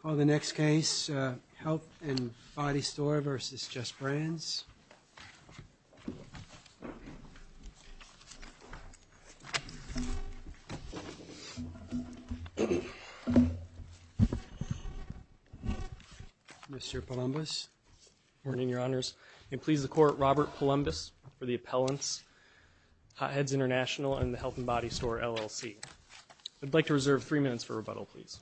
Call the next case, Health and Body Store v. Justbrands. Mr. Palumbis. Good morning, Your Honors. May it please the Court, Robert Palumbis for the appellants, Hot Heads International and LLC. I'd like to reserve three minutes for rebuttal, please.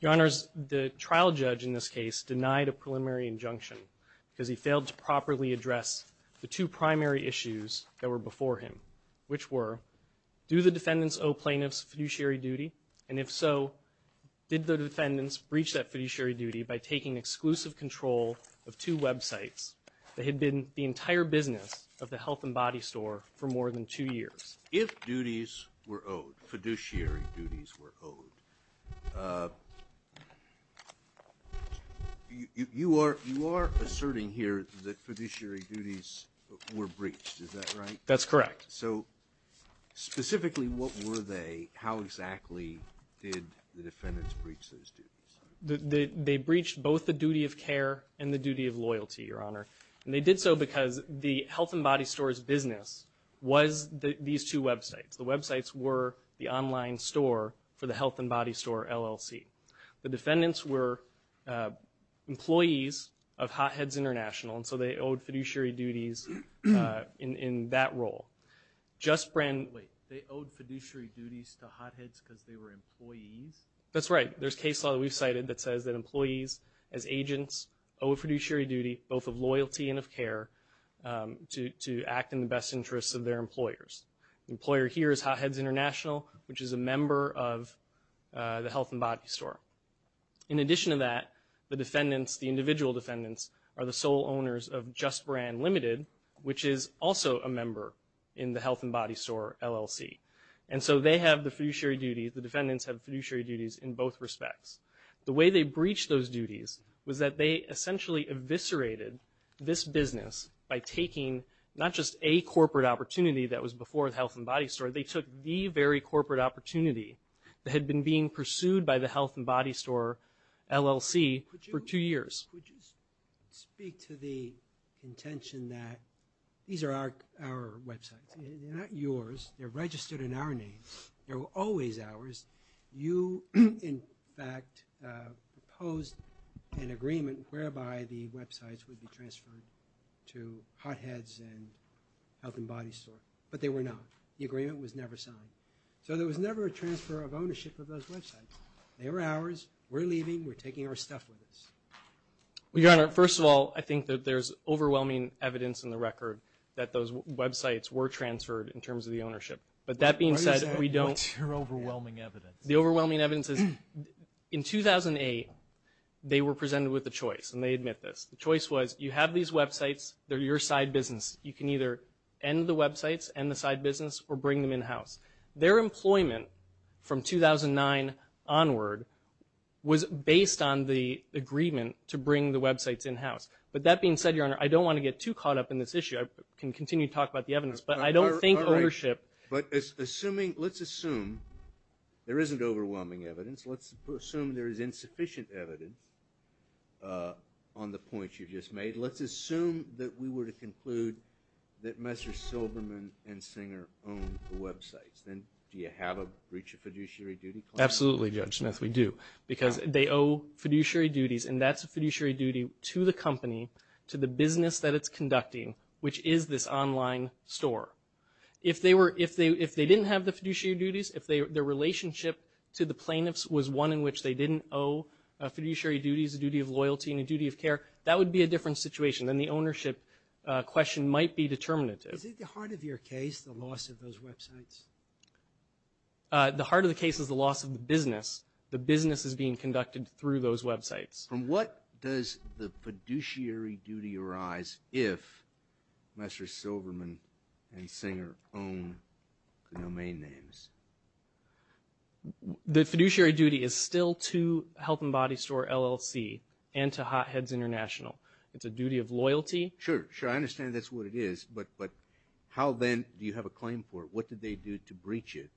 Your Honors, the trial judge in this case denied a preliminary injunction because he failed to properly address the two primary issues that were before him, which were, do the defendants owe plaintiffs fiduciary duty? And if so, did the defendants breach that fiduciary duty by taking exclusive control of two websites that had been the entire business of the Health and Body Store for more than two years? If duties were owed, fiduciary duties were owed, you are asserting here that fiduciary duties were breached, is that right? That's correct. So, specifically, what were they, how exactly did the defendants breach those duties? They breached both the duty of care and the duty of loyalty, Your Honor, and they did so because the Health and Body Store's business was these two websites. The websites were the online store for the Health and Body Store, LLC. The defendants were employees of Hot Heads International, and so they owed fiduciary duties in that role. Justbrand Wait, they owed fiduciary duties to Hot Heads because they were employees? That's right. There's case law that we've cited that says that employees, as agents, owe a fiduciary duty, both of loyalty and of care, to act in the best interests of their employers. The employer here is Hot Heads International, which is a member of the Health and Body Store. In addition to that, the defendants, the individual defendants, are the sole owners of Justbrand Limited, which is also a member in the Health and Body Store, LLC. And so they have the fiduciary duties, the defendants have fiduciary duties in both respects. The way they breached those duties was that they essentially eviscerated this business by taking not just a corporate opportunity that was before the Health and Body Store, they took the very corporate opportunity that had been being pursued by the Health and Body Store, LLC, for two years. Could you speak to the intention that these are our websites? They're not yours. They're registered in our name. They were always ours. You, in fact, proposed an agreement whereby the websites would be transferred to Hot Heads and Health and Body Store. But they were not. The agreement was never signed. So there was never a transfer of ownership of those websites. They were ours. We're leaving. We're taking our stuff with us. Well, Your Honor, first of all, I think that there's overwhelming evidence in the record that those websites were transferred in terms of the ownership. But that being said, we don't... What's your overwhelming evidence? The overwhelming evidence is, in 2008, they were presented with a choice, and they admit this. The choice was, you have these websites, they're your side business. You can either end the websites, end the side business, or bring them in-house. Their employment from 2009 onward was based on the agreement to bring the websites in-house. But that being said, Your Honor, I don't want to get too caught up in this issue. I can continue to talk about the evidence. But I don't think ownership... All right. But assuming... Let's assume there isn't overwhelming evidence. Let's assume there is insufficient evidence on the points you just made. Let's assume that we were to conclude that Mr. Silberman and Singer owned the websites. Then do you have a breach of fiduciary duty claim? Absolutely, Judge Smith, we do. Because they owe fiduciary duties, and that's a fiduciary duty to the company, to the business that it's conducting, which is this online store. If they didn't have the fiduciary duties, if their relationship to the plaintiffs was one in which they didn't owe fiduciary duties, a duty of loyalty, and a duty of care, that would be a different situation. Then the ownership question might be determinative. Is it the heart of your case, the loss of those websites? The heart of the case is the loss of the business. The business is being conducted through those websites. From what does the fiduciary duty arise if Mr. Silberman and Singer own domain names? The fiduciary duty is still to Health and Body Store, LLC, and to Hot Heads International. It's a duty of loyalty. Sure, sure. I understand that's what it is, but how then do you have a claim for it? What did they do to breach it?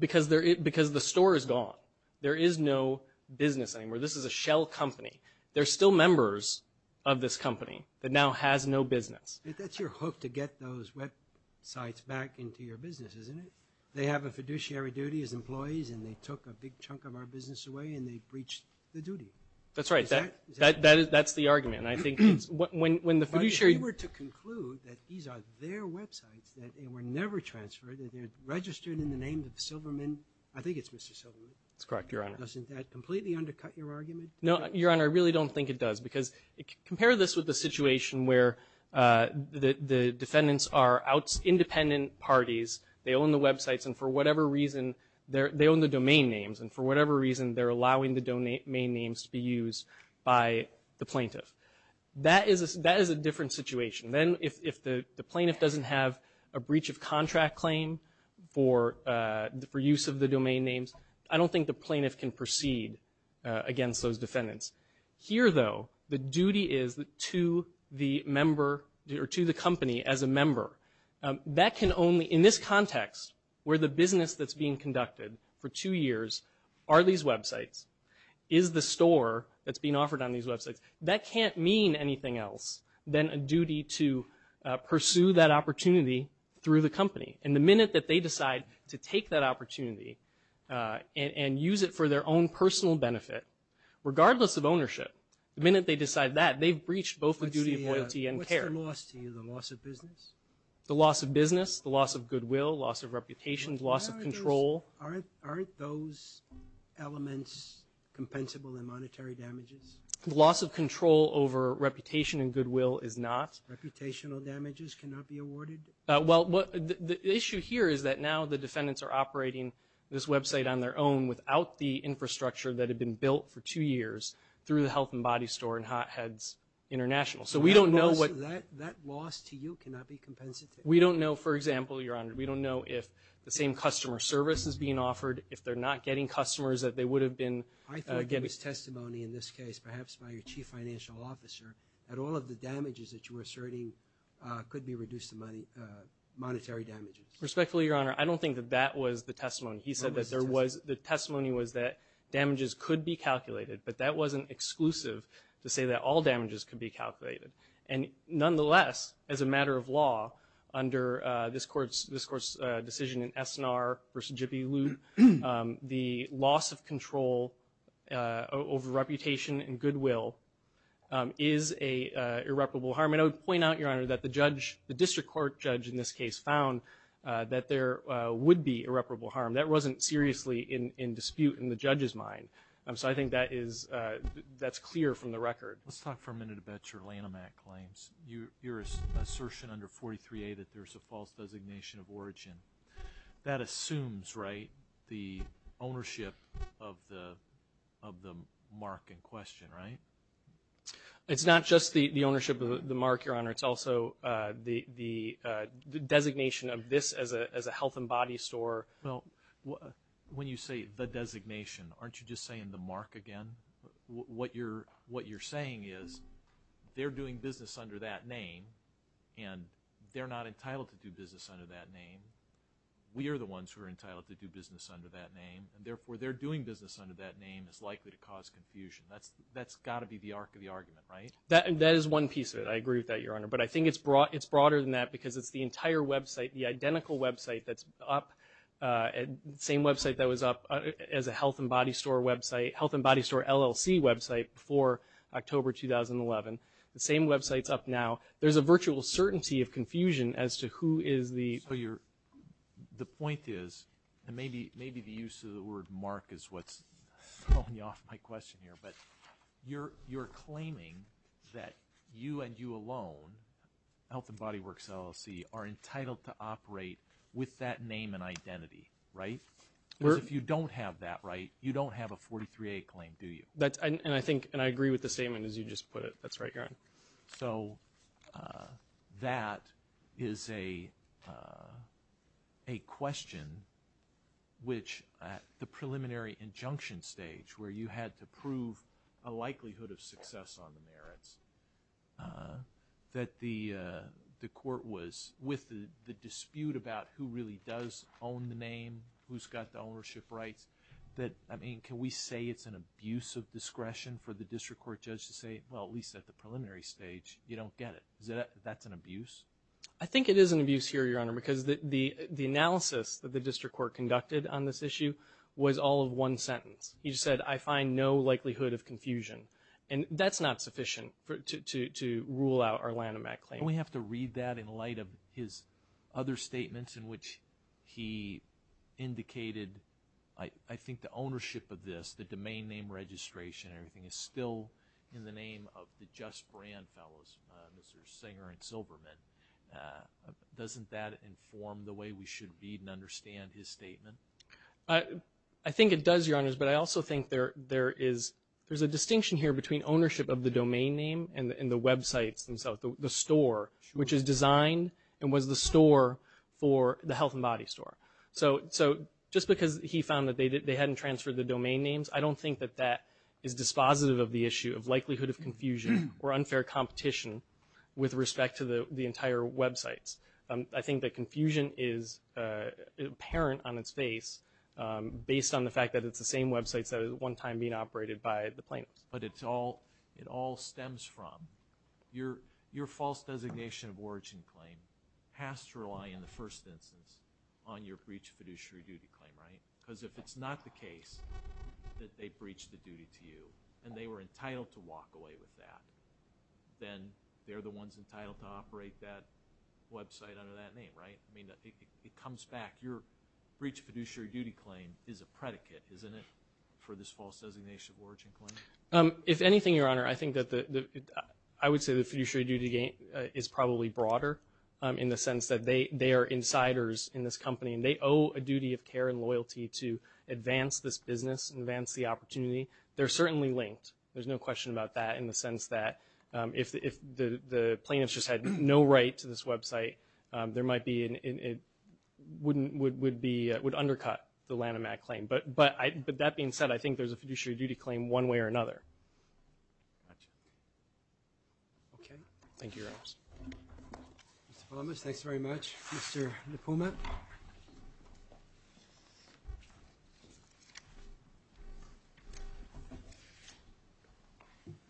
Because the store is gone. There is no business anymore. This is a shell company. They're still members of this company that now has no business. That's your hope to get those websites back into your business, isn't it? They have a fiduciary duty as employees, and they took a big chunk of our business away, and they breached the duty. That's right. Is that it? That's the argument. I think when the fiduciary- But if you were to conclude that these are their websites, that they were never transferred, that they're registered in the name of Silberman, I think it's Mr. Silberman. That's correct, Your Honor. Doesn't that completely undercut your argument? No, Your Honor. I really don't think it does, because compare this with the situation where the defendants are independent parties. They own the websites, and for whatever reason, they own the domain names, and for whatever reason they're allowing the domain names to be used by the plaintiff. That is a different situation. Then if the plaintiff doesn't have a breach of contract claim for use of the domain names, I don't think the plaintiff can proceed against those defendants. Here though, the duty is to the company as a member. In this context, where the business that's being conducted for two years are these websites, is the store that's being offered on these websites, that can't mean anything else than a duty to pursue that opportunity through the company. The minute that they decide to take that opportunity and use it for their own personal benefit, regardless of ownership, the minute they decide that, they've breached both the duty of loyalty and care. What's the loss to you? The loss of business? The loss of business, the loss of goodwill, loss of reputation, loss of control. Aren't those elements compensable in monetary damages? The loss of control over reputation and goodwill is not. Reputational damages cannot be awarded? Well, the issue here is that now the defendants are operating this website on their own without the infrastructure that had been built for two years through the Health and Body Store and Hot Heads International. So we don't know what... That loss to you cannot be compensated? We don't know, for example, Your Honor, we don't know if the same customer service is being offered, if they're not getting customers that they would have been getting. I thought there was testimony in this case, perhaps by your Chief Financial Officer, that all of the damages that you were asserting could be reduced to monetary damages. Respectfully, Your Honor, I don't think that that was the testimony. He said that there was... That was the testimony. The testimony was that damages could be calculated, but that wasn't exclusive to say that all damages could be calculated. And nonetheless, as a matter of law, under this Court's decision in Esnar v. Gibelud, the loss of control over reputation and goodwill is an irreparable harm. And I would point out, Your Honor, that the judge, the district court judge in this case found that there would be irreparable harm. That wasn't seriously in dispute in the judge's mind. So I think that is... That's clear from the record. Let's talk for a minute about your Lanham Act claims. Your assertion under 43A that there's a false designation of origin. That assumes, right, the ownership of the mark in question, right? It's not just the ownership of the mark, Your Honor. It's also the designation of this as a health and body store. Well, when you say the designation, aren't you just saying the mark again? What you're saying is they're doing business under that name, and they're not entitled to do business under that name. We are the ones who are entitled to do business under that name, and therefore, their doing business under that name is likely to cause confusion. That's got to be the arc of the argument, right? That is one piece of it. I agree with that, Your Honor. But I think it's broader than that because it's the entire website, the identical website that's up, the same website that was up as a health and body store website, health and body store LLC website before October 2011, the same website's up now. There's a virtual certainty of confusion as to who is the... The point is, and maybe the use of the word mark is what's throwing me off my question here, but you're claiming that you and you alone, health and body works LLC, are entitled to operate with that name and identity, right? Because if you don't have that, right, you don't have a 43A claim, do you? And I think, and I agree with the statement as you just put it. That's right, Your Honor. So that is a question which at the preliminary injunction stage where you had to prove a likelihood of success on the merits that the court was, with the dispute about who really does own the name, who's got the ownership rights, that, I mean, can we say it's an abuse of discretion for the district court judge to say, well, at least at the preliminary stage, you don't get it. That's an abuse? I think it is an abuse here, Your Honor, because the analysis that the district court conducted on this issue was all of one sentence. He just said, I find no likelihood of confusion. And that's not sufficient to rule out our Lanham Act claim. We have to read that in light of his other statements in which he indicated, I think, the ownership of this, the domain name registration and everything is still in the name of the Just Brand Fellows, Mr. Singer and Zilberman. Doesn't that inform the way we should read and understand his statement? I think it does, Your Honors, but I also think there is a distinction here between ownership of the domain name and the websites themselves, the store, which is designed and was the store for the health and body store. So just because he found that they hadn't transferred the domain names, I don't think that that is dispositive of the issue of likelihood of confusion or unfair competition with respect to the entire websites. I think that confusion is apparent on its face based on the fact that it's the same websites that were at one time being operated by the plaintiffs. But it all stems from your false designation of origin claim has to rely in the first instance on your breach of fiduciary duty claim, right? Because if it's not the case that they breached the duty to you and they were entitled to walk away with that, then they're the ones entitled to operate that website under that name, right? I mean, it comes back. Your breach of fiduciary duty claim is a predicate, isn't it, for this false designation of origin claim? If anything, Your Honor, I think that the, I would say the fiduciary duty is probably broader in the sense that they are insiders in this company and they owe a duty of care and loyalty to advance this business and advance the opportunity. They're certainly linked. There's no question about that in the sense that if the plaintiffs just had no right to this website, there might be an, it wouldn't, would be, would undercut the Lanham Act claim. But that being said, I think there's a fiduciary duty claim one way or another. Okay. Thank you, Your Honor. Mr. Palamas, thanks very much. Mr. LaPuma?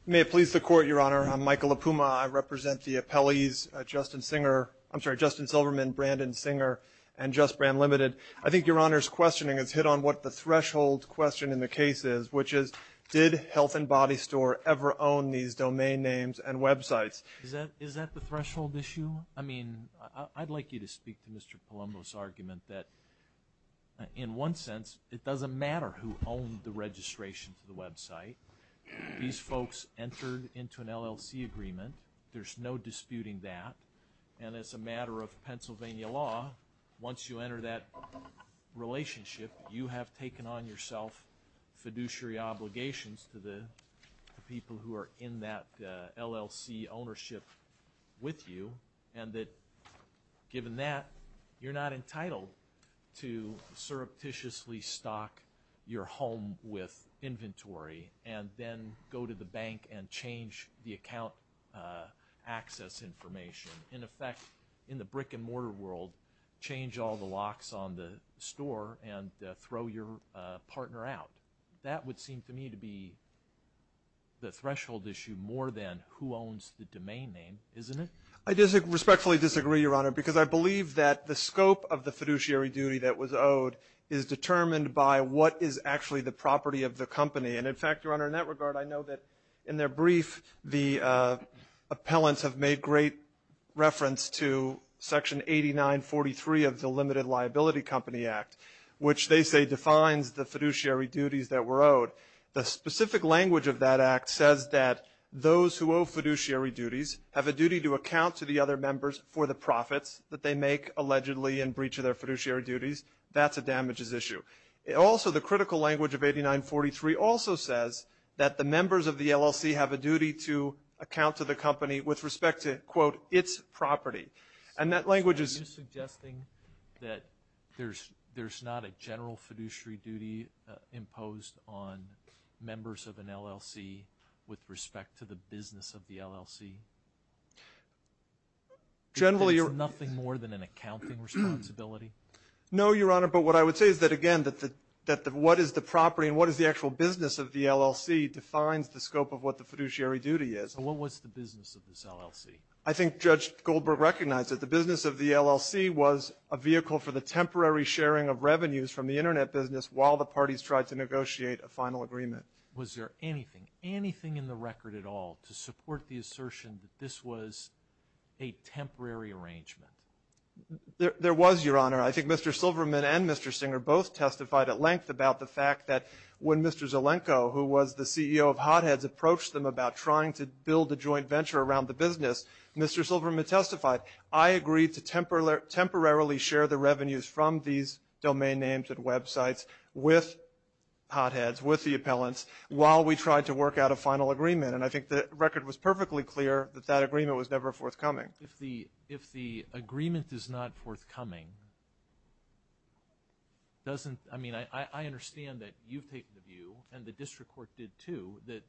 May it please the Court, Your Honor. I'm Michael LaPuma. I represent the appellees, Justin Singer, I'm sorry, Justin Silverman, Brandon Singer, and Just Brand Limited. I think Your Honor's questioning has hit on what the threshold question in the case is, which is, did Health and Body Store ever own these domain names and websites? Is that the threshold issue? I mean, I'd like you to speak to Mr. Palamas' argument that in one sense, it doesn't matter who owned the registration to the website. These folks entered into an LLC agreement. There's no disputing that. And as a matter of Pennsylvania law, once you enter that relationship, you have taken on yourself fiduciary obligations to the people who are in that LLC ownership with you and that given that, you're not entitled to surreptitiously stock your home with inventory and then go to the bank and change the account access information. In effect, in the brick and mortar world, change all the locks on the store and throw your partner out. That would seem to me to be the threshold issue more than who owns the domain name, isn't it? I respectfully disagree, Your Honor, because I believe that the scope of the fiduciary duty that was owed is determined by what is actually the property of the company. And in fact, Your Honor, in that regard, I know that in their brief, the appellants have made great reference to Section 8943 of the Limited Liability Company Act, which they say defines the fiduciary duties that were owed. The specific language of that act says that those who owe fiduciary duties have a duty to account to the other members for the profits that they make allegedly in breach of their fiduciary duties. That's a damages issue. Also, the critical language of 8943 also says that the members of the LLC have a duty to account with respect to, quote, its property. And that language is... Are you suggesting that there's not a general fiduciary duty imposed on members of an LLC with respect to the business of the LLC? Generally you're... Because it's nothing more than an accounting responsibility? No, Your Honor, but what I would say is that, again, that what is the property and what is the actual business of the LLC defines the scope of what the fiduciary duty is. So what was the business of this LLC? I think Judge Goldberg recognized that the business of the LLC was a vehicle for the temporary sharing of revenues from the Internet business while the parties tried to negotiate a final agreement. Was there anything, anything in the record at all to support the assertion that this was a temporary arrangement? There was, Your Honor. I think Mr. Silverman and Mr. Singer both testified at length about the fact that when Mr. Zelenko, who was the CEO of HotHeads, approached them about trying to build a joint venture around the business, Mr. Silverman testified, I agreed to temporarily share the revenues from these domain names and websites with HotHeads, with the appellants, while we tried to work out a final agreement. And I think the record was perfectly clear that that agreement was never forthcoming. If the agreement is not forthcoming, doesn't, I mean, I understand that you've taken the view, and the district court did too, that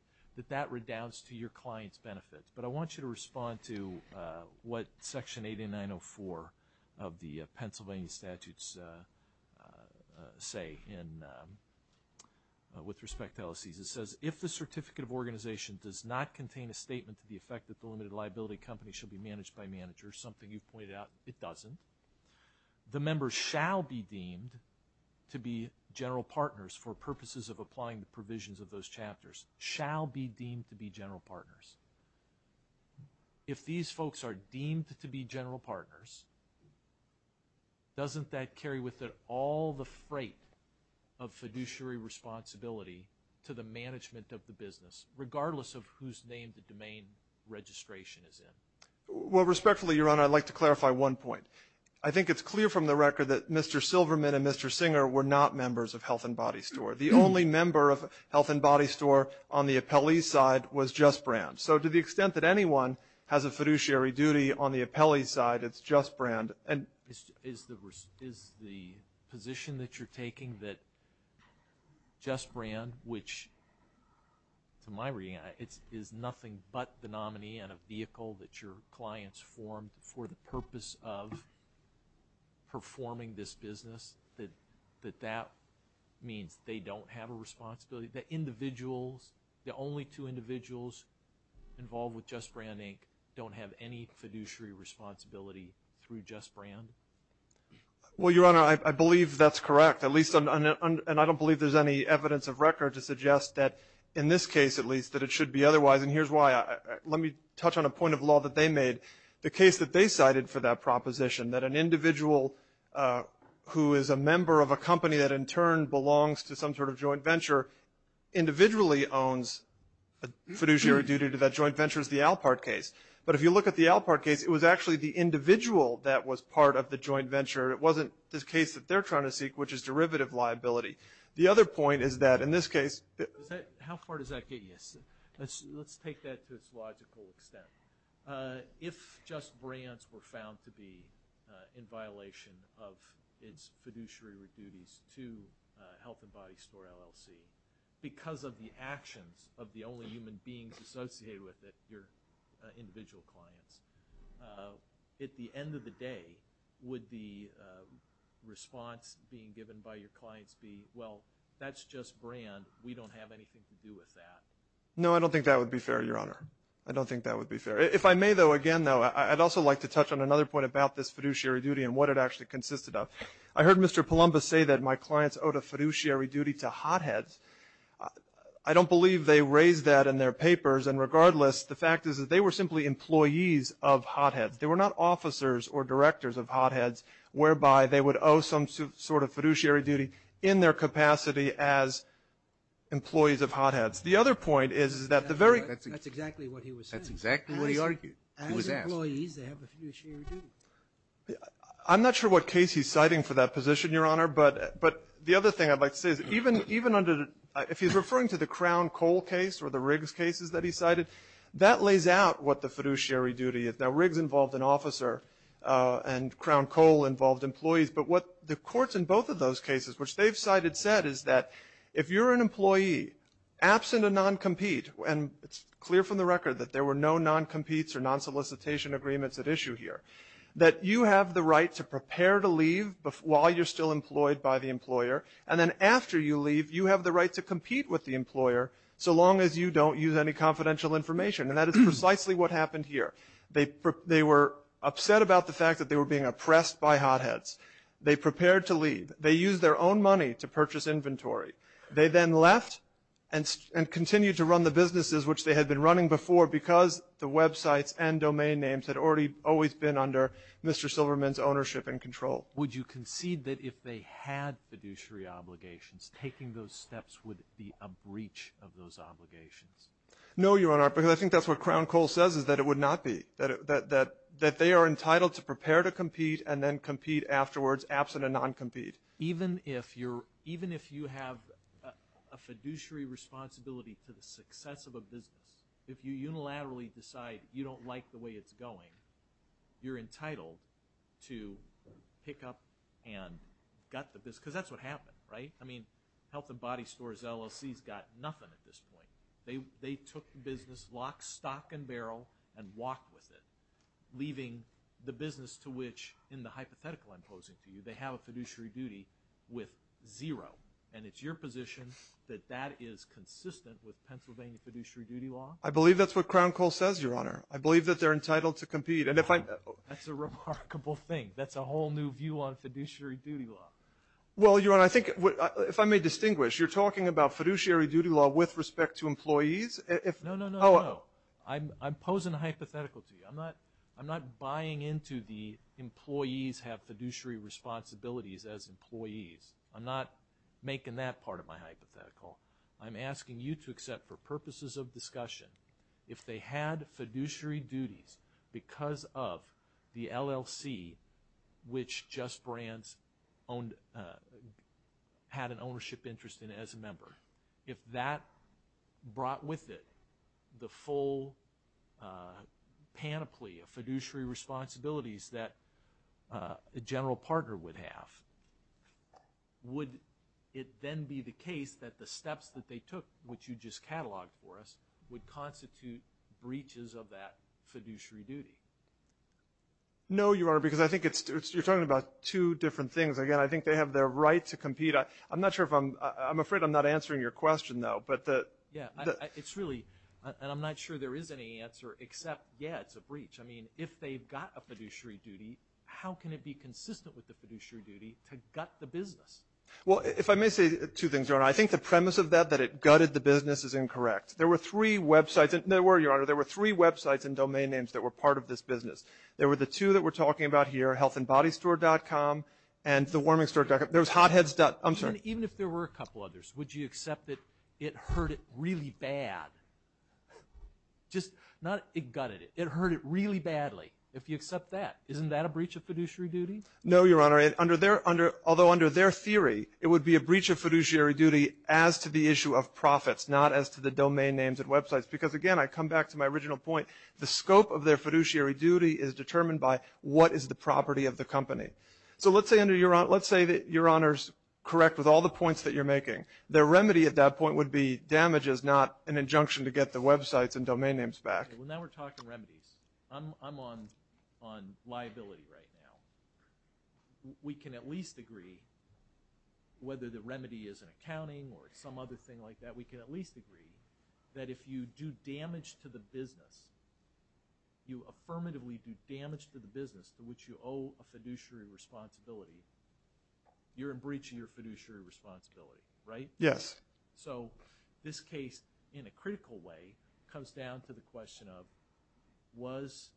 that redoubts to your client's benefit. But I want you to respond to what Section 8904 of the Pennsylvania statutes say in, with respect to LLCs. It says, if the certificate of organization does not contain a statement to the effect that the limited liability company shall be managed by managers, something you've pointed out, it doesn't. The members shall be deemed to be general partners for purposes of applying the provisions of those chapters, shall be deemed to be general partners. If these folks are deemed to be general partners, doesn't that carry with it all the freight of fiduciary responsibility to the management of the business, regardless of whose name the domain registration is in? Well, respectfully, Your Honor, I'd like to clarify one point. I think it's clear from the record that Mr. Silverman and Mr. Singer were not members of Health and Body Store. The only member of Health and Body Store on the appellee's side was Just Brand. So to the extent that anyone has a fiduciary duty on the appellee's side, it's Just Brand. And is the position that you're taking that Just Brand, which, to my reading, is nothing but the nominee and a vehicle that your clients formed for the purpose of performing this business, that that means they don't have a responsibility, that individuals, the only two individuals involved with Just Brand Inc. don't have any fiduciary responsibility through Just Brand? Well, Your Honor, I believe that's correct, at least, and I don't believe there's any evidence of record to suggest that, in this case at least, that it should be otherwise. And here's why. Let me touch on a point of law that they made. The case that they cited for that proposition, that an individual who is a member of a company that, in turn, belongs to some sort of joint venture, individually owns a fiduciary duty to that joint venture is the Alpart case. But if you look at the Alpart case, it was actually the individual that was part of the joint venture. It wasn't this case that they're trying to seek, which is derivative liability. The other point is that, in this case – How far does that get you, sir? Let's take that to its logical extent. If Just Brands were found to be in violation of its fiduciary duties to Health & Body Store LLC, because of the actions of the only human beings associated with it, your individual clients, at the end of the day, would the response being given by your clients be, well, that's Just Brand, we don't have anything to do with that? No, I don't think that would be fair, Your Honor. I don't think that would be fair. If I may, though, again, though, I'd also like to touch on another point about this fiduciary duty and what it actually consisted of. I heard Mr. Palumbo say that my clients owed a fiduciary duty to hotheads. I don't believe they raised that in their papers, and regardless, the fact is that they were simply employees of hotheads. They were not officers or directors of hotheads whereby they would owe some sort of fiduciary duty in their capacity as employees of hotheads. The other point is that the very... That's exactly what he was saying. That's exactly what he argued. He was asked. As employees, they have a fiduciary duty. I'm not sure what case he's citing for that position, Your Honor, but the other thing I'd like to say is even under, if he's referring to the Crown-Cole case or the Riggs cases that he cited, that lays out what the fiduciary duty is. Now, Riggs involved an officer, and Crown-Cole involved employees, but what the courts in non-compete, and it's clear from the record that there were no non-competes or non-solicitation agreements at issue here, that you have the right to prepare to leave while you're still employed by the employer, and then after you leave, you have the right to compete with the employer so long as you don't use any confidential information, and that is precisely what happened here. They were upset about the fact that they were being oppressed by hotheads. They prepared to leave. They used their own money to purchase inventory. They then left and continued to run the businesses which they had been running before because the websites and domain names had already always been under Mr. Silverman's ownership and control. Would you concede that if they had fiduciary obligations, taking those steps would be a breach of those obligations? No, Your Honor, because I think that's what Crown-Cole says is that it would not be, that they are entitled to prepare to compete and then compete afterwards absent a non-compete. Even if you have a fiduciary responsibility to the success of a business, if you unilaterally decide you don't like the way it's going, you're entitled to pick up and gut the business because that's what happened, right? I mean, Health and Body Stores LLC's got nothing at this point. They took the business lock, stock, and barrel and walked with it, leaving the business to which, in the hypothetical I'm posing to you, they have a fiduciary duty with zero. And it's your position that that is consistent with Pennsylvania fiduciary duty law? I believe that's what Crown-Cole says, Your Honor. I believe that they're entitled to compete. And if I... That's a remarkable thing. That's a whole new view on fiduciary duty law. Well, Your Honor, I think, if I may distinguish, you're talking about fiduciary duty law with respect to employees? If... No, no, no, no. I'm posing a hypothetical to you. I'm not buying into the employees have fiduciary responsibilities as employees. I'm not making that part of my hypothetical. I'm asking you to accept, for purposes of discussion, if they had fiduciary duties because of the LLC, which Just Brands had an ownership interest in as a member, if that brought with it the full panoply of fiduciary responsibilities that a general partner would have, would it then be the case that the steps that they took, which you just cataloged for us, would constitute breaches of that fiduciary duty? No, Your Honor, because I think it's... You're talking about two different things. Again, I think they have their right to compete. I'm not sure if I'm... I'm afraid I'm not answering your question, though. But the... Yeah. It's really... And I'm not sure there is any answer except, yeah, it's a breach. I mean, if they've got a fiduciary duty, how can it be consistent with the fiduciary duty to gut the business? Well, if I may say two things, Your Honor. I think the premise of that, that it gutted the business, is incorrect. There were three websites... There were, Your Honor. There were three websites and domain names that were part of this business. There were the two that we're talking about here, healthandbodystore.com and thewarmingstore.com. There was hotheads. I'm sorry. And even if there were a couple others, would you accept that it hurt it really bad? Just not... It gutted it. It hurt it really badly. If you accept that, isn't that a breach of fiduciary duty? No, Your Honor. Under their... Although, under their theory, it would be a breach of fiduciary duty as to the issue of profits, not as to the domain names and websites. Because again, I come back to my original point. The scope of their fiduciary duty is determined by what is the property of the company. So let's say, Your Honor, let's say that Your Honor's correct with all the points that you're making. The remedy at that point would be damage is not an injunction to get the websites and domain names back. Okay. Well, now we're talking remedies. I'm on liability right now. We can at least agree, whether the remedy is an accounting or some other thing like that, we can at least agree that if you do damage to the business, you affirmatively do damage to the business to which you owe a fiduciary responsibility, you're in breach of your fiduciary responsibility, right? Yes. So this case, in a critical way, comes down to the question of, was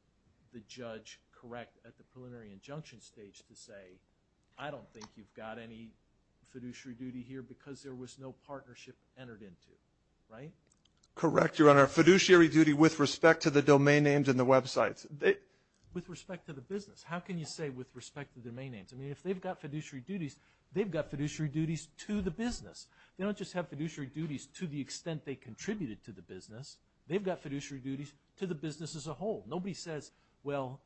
the judge correct at the preliminary injunction stage to say, I don't think you've got any fiduciary duty here because there was no partnership entered into, right? Correct, Your Honor. A fiduciary duty with respect to the domain names and the websites. With respect to the business. How can you say with respect to the domain names? I mean, if they've got fiduciary duties, they've got fiduciary duties to the business. They don't just have fiduciary duties to the extent they contributed to the business. They've got fiduciary duties to the business as a whole. Nobody says, well,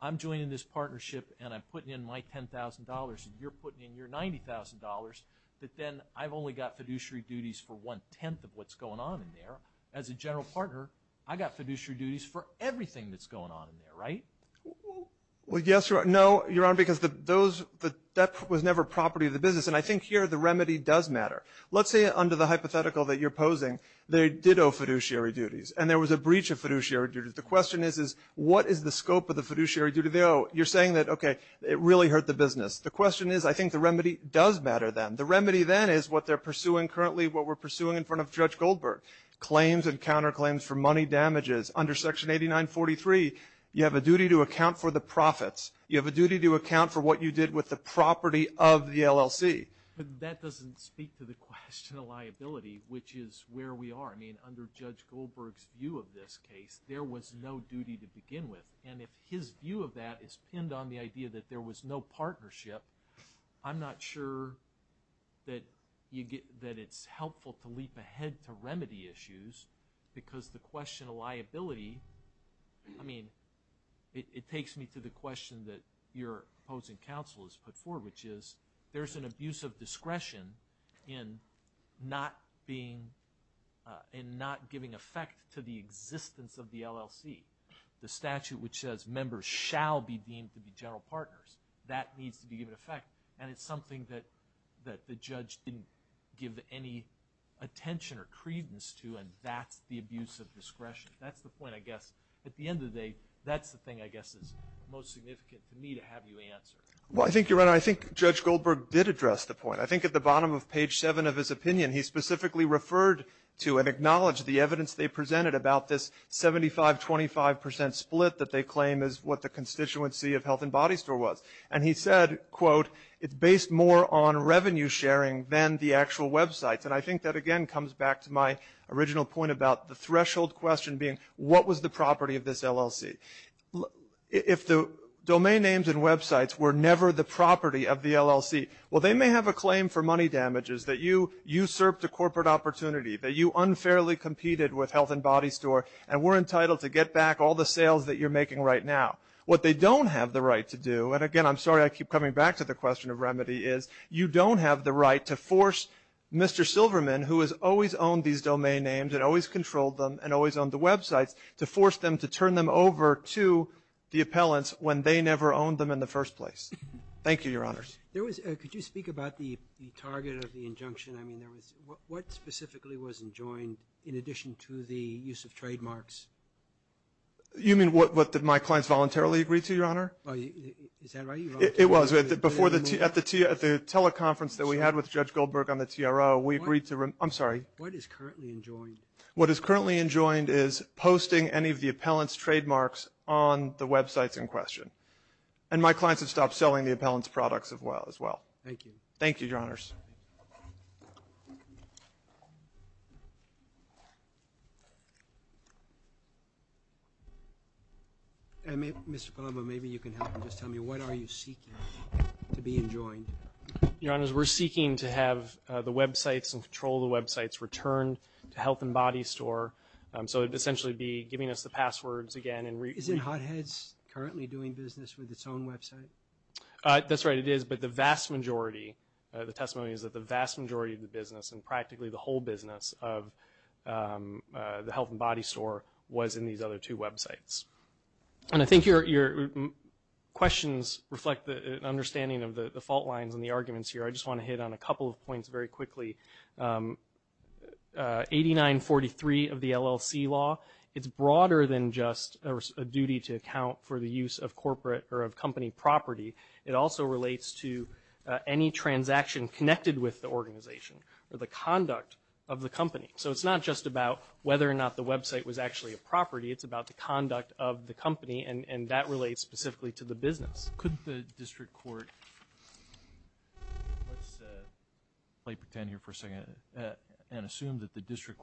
I'm joining this partnership and I'm putting in my $10,000 and you're putting in your $90,000, but then I've only got fiduciary duties for one-tenth of what's going on in there. As a general partner, I've got fiduciary duties for everything that's going on in there, right? Well, yes, Your Honor. No, Your Honor, because that was never property of the business, and I think here the remedy does matter. Let's say under the hypothetical that you're posing, they did owe fiduciary duties and there was a breach of fiduciary duties. The question is, what is the scope of the fiduciary duty they owe? You're saying that, okay, it really hurt the business. The question is, I think the remedy does matter then. The remedy then is what they're pursuing currently, what we're pursuing in front of Judge Goldberg. Claims and counterclaims for money damages. Under Section 8943, you have a duty to account for the profits. You have a duty to account for what you did with the property of the LLC. That doesn't speak to the question of liability, which is where we are. I mean, under Judge Goldberg's view of this case, there was no duty to begin with, and if his view of that is pinned on the idea that there was no partnership, I'm not sure that it's helpful to leap ahead to remedy issues because the question of liability, I mean, it takes me to the question that your opposing counsel has put forward, which is there's an abuse of discretion in not giving effect to the existence of the LLC. The statute which says members shall be deemed to be general partners. That needs to be given effect, and it's something that the judge didn't give any attention or credence to, and that's the abuse of discretion. That's the point, I guess. At the end of the day, that's the thing, I guess, that's most significant to me to have you answer. Well, I think, Your Honor, I think Judge Goldberg did address the point. I think at the bottom of page 7 of his opinion, he specifically referred to and acknowledged the evidence they presented about this 75-25% split that they claim is what the constituency of Health and Body Store was, and he said, quote, it's based more on revenue sharing than the actual websites, and I think that, again, comes back to my original point about the threshold question being what was the property of this LLC? If the domain names and websites were never the property of the LLC, well, they may have a claim for money damages that you usurped a corporate opportunity, that you unfairly competed with Health and Body Store, and we're entitled to get back all the sales that you're making right now. What they don't have the right to do, and again, I'm sorry I keep coming back to the question of remedy, is you don't have the right to force Mr. Silverman, who has always owned these domain names and always controlled them and always owned the websites, to force them to turn them over to the appellants when they never owned them in the first place. Thank you, Your Honors. There was, could you speak about the target of the injunction? I mean, there was, what specifically was enjoined in addition to the use of trademarks? You mean what my clients voluntarily agreed to, Your Honor? Is that right? It was. At the teleconference that we had with Judge Goldberg on the TRO, we agreed to, I'm sorry. What is currently enjoined? What is currently enjoined is posting any of the appellant's trademarks on the websites in question, and my clients have stopped selling the appellant's products as well. Thank you. Thank you, Your Honors. Mr. Colombo, maybe you can help and just tell me, what are you seeking to be enjoined? Your Honors, we're seeking to have the websites and control the websites returned to Health and Body Store, so it would essentially be giving us the passwords again. Is it Hot Heads currently doing business with its own website? That's right, it is, but the vast majority, the testimony is that the vast majority of business and practically the whole business of the Health and Body Store was in these other two websites. And I think your questions reflect an understanding of the fault lines and the arguments here. I just want to hit on a couple of points very quickly. 8943 of the LLC law, it's broader than just a duty to account for the use of corporate or of company property. It also relates to any transaction connected with the organization or the conduct of the company. So it's not just about whether or not the website was actually a property, it's about the conduct of the company, and that relates specifically to the business. Could the District Court, let's play pretend here for a second, and assume that the District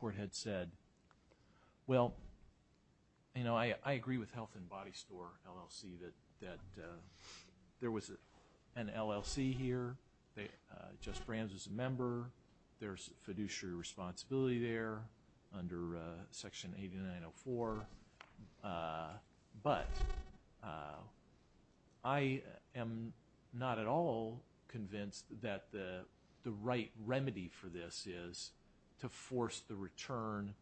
an LLC here, Jess Brams is a member, there's fiduciary responsibility there under section 8904, but I am not at all convinced that the right remedy for this is to force the return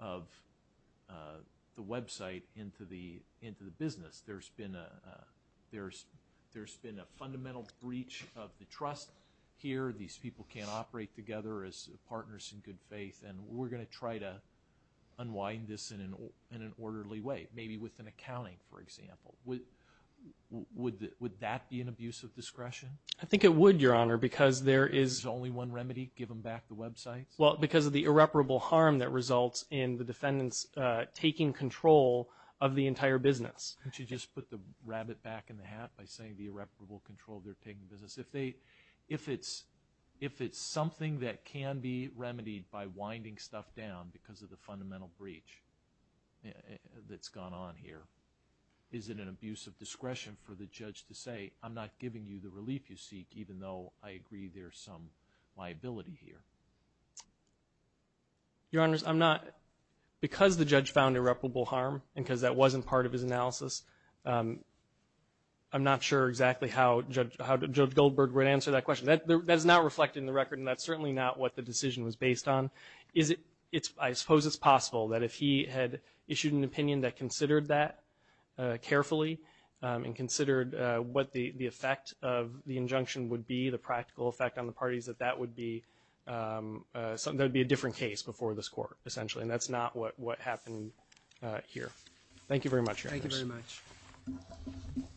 of the website into the business. There's been a fundamental breach of the trust here. These people can't operate together as partners in good faith, and we're going to try to unwind this in an orderly way, maybe with an accounting, for example. Would that be an abuse of discretion? I think it would, Your Honor, because there is... There's only one remedy, give them back the websites? Well, because of the irreparable harm that results in the defendants taking control of the entire business. Don't you just put the rabbit back in the hat by saying the irreparable control of their taking business? If it's something that can be remedied by winding stuff down because of the fundamental breach that's gone on here, is it an abuse of discretion for the judge to say, I'm not giving you the relief you seek, even though I agree there's some liability here? Your Honors, I'm not... I'm not sure exactly how Judge Goldberg would answer that question. That is not reflected in the record, and that's certainly not what the decision was based on. I suppose it's possible that if he had issued an opinion that considered that carefully and considered what the effect of the injunction would be, the practical effect on the parties, that that would be a different case before this Court, essentially. Thank you very much, Your Honors. Thank you very much.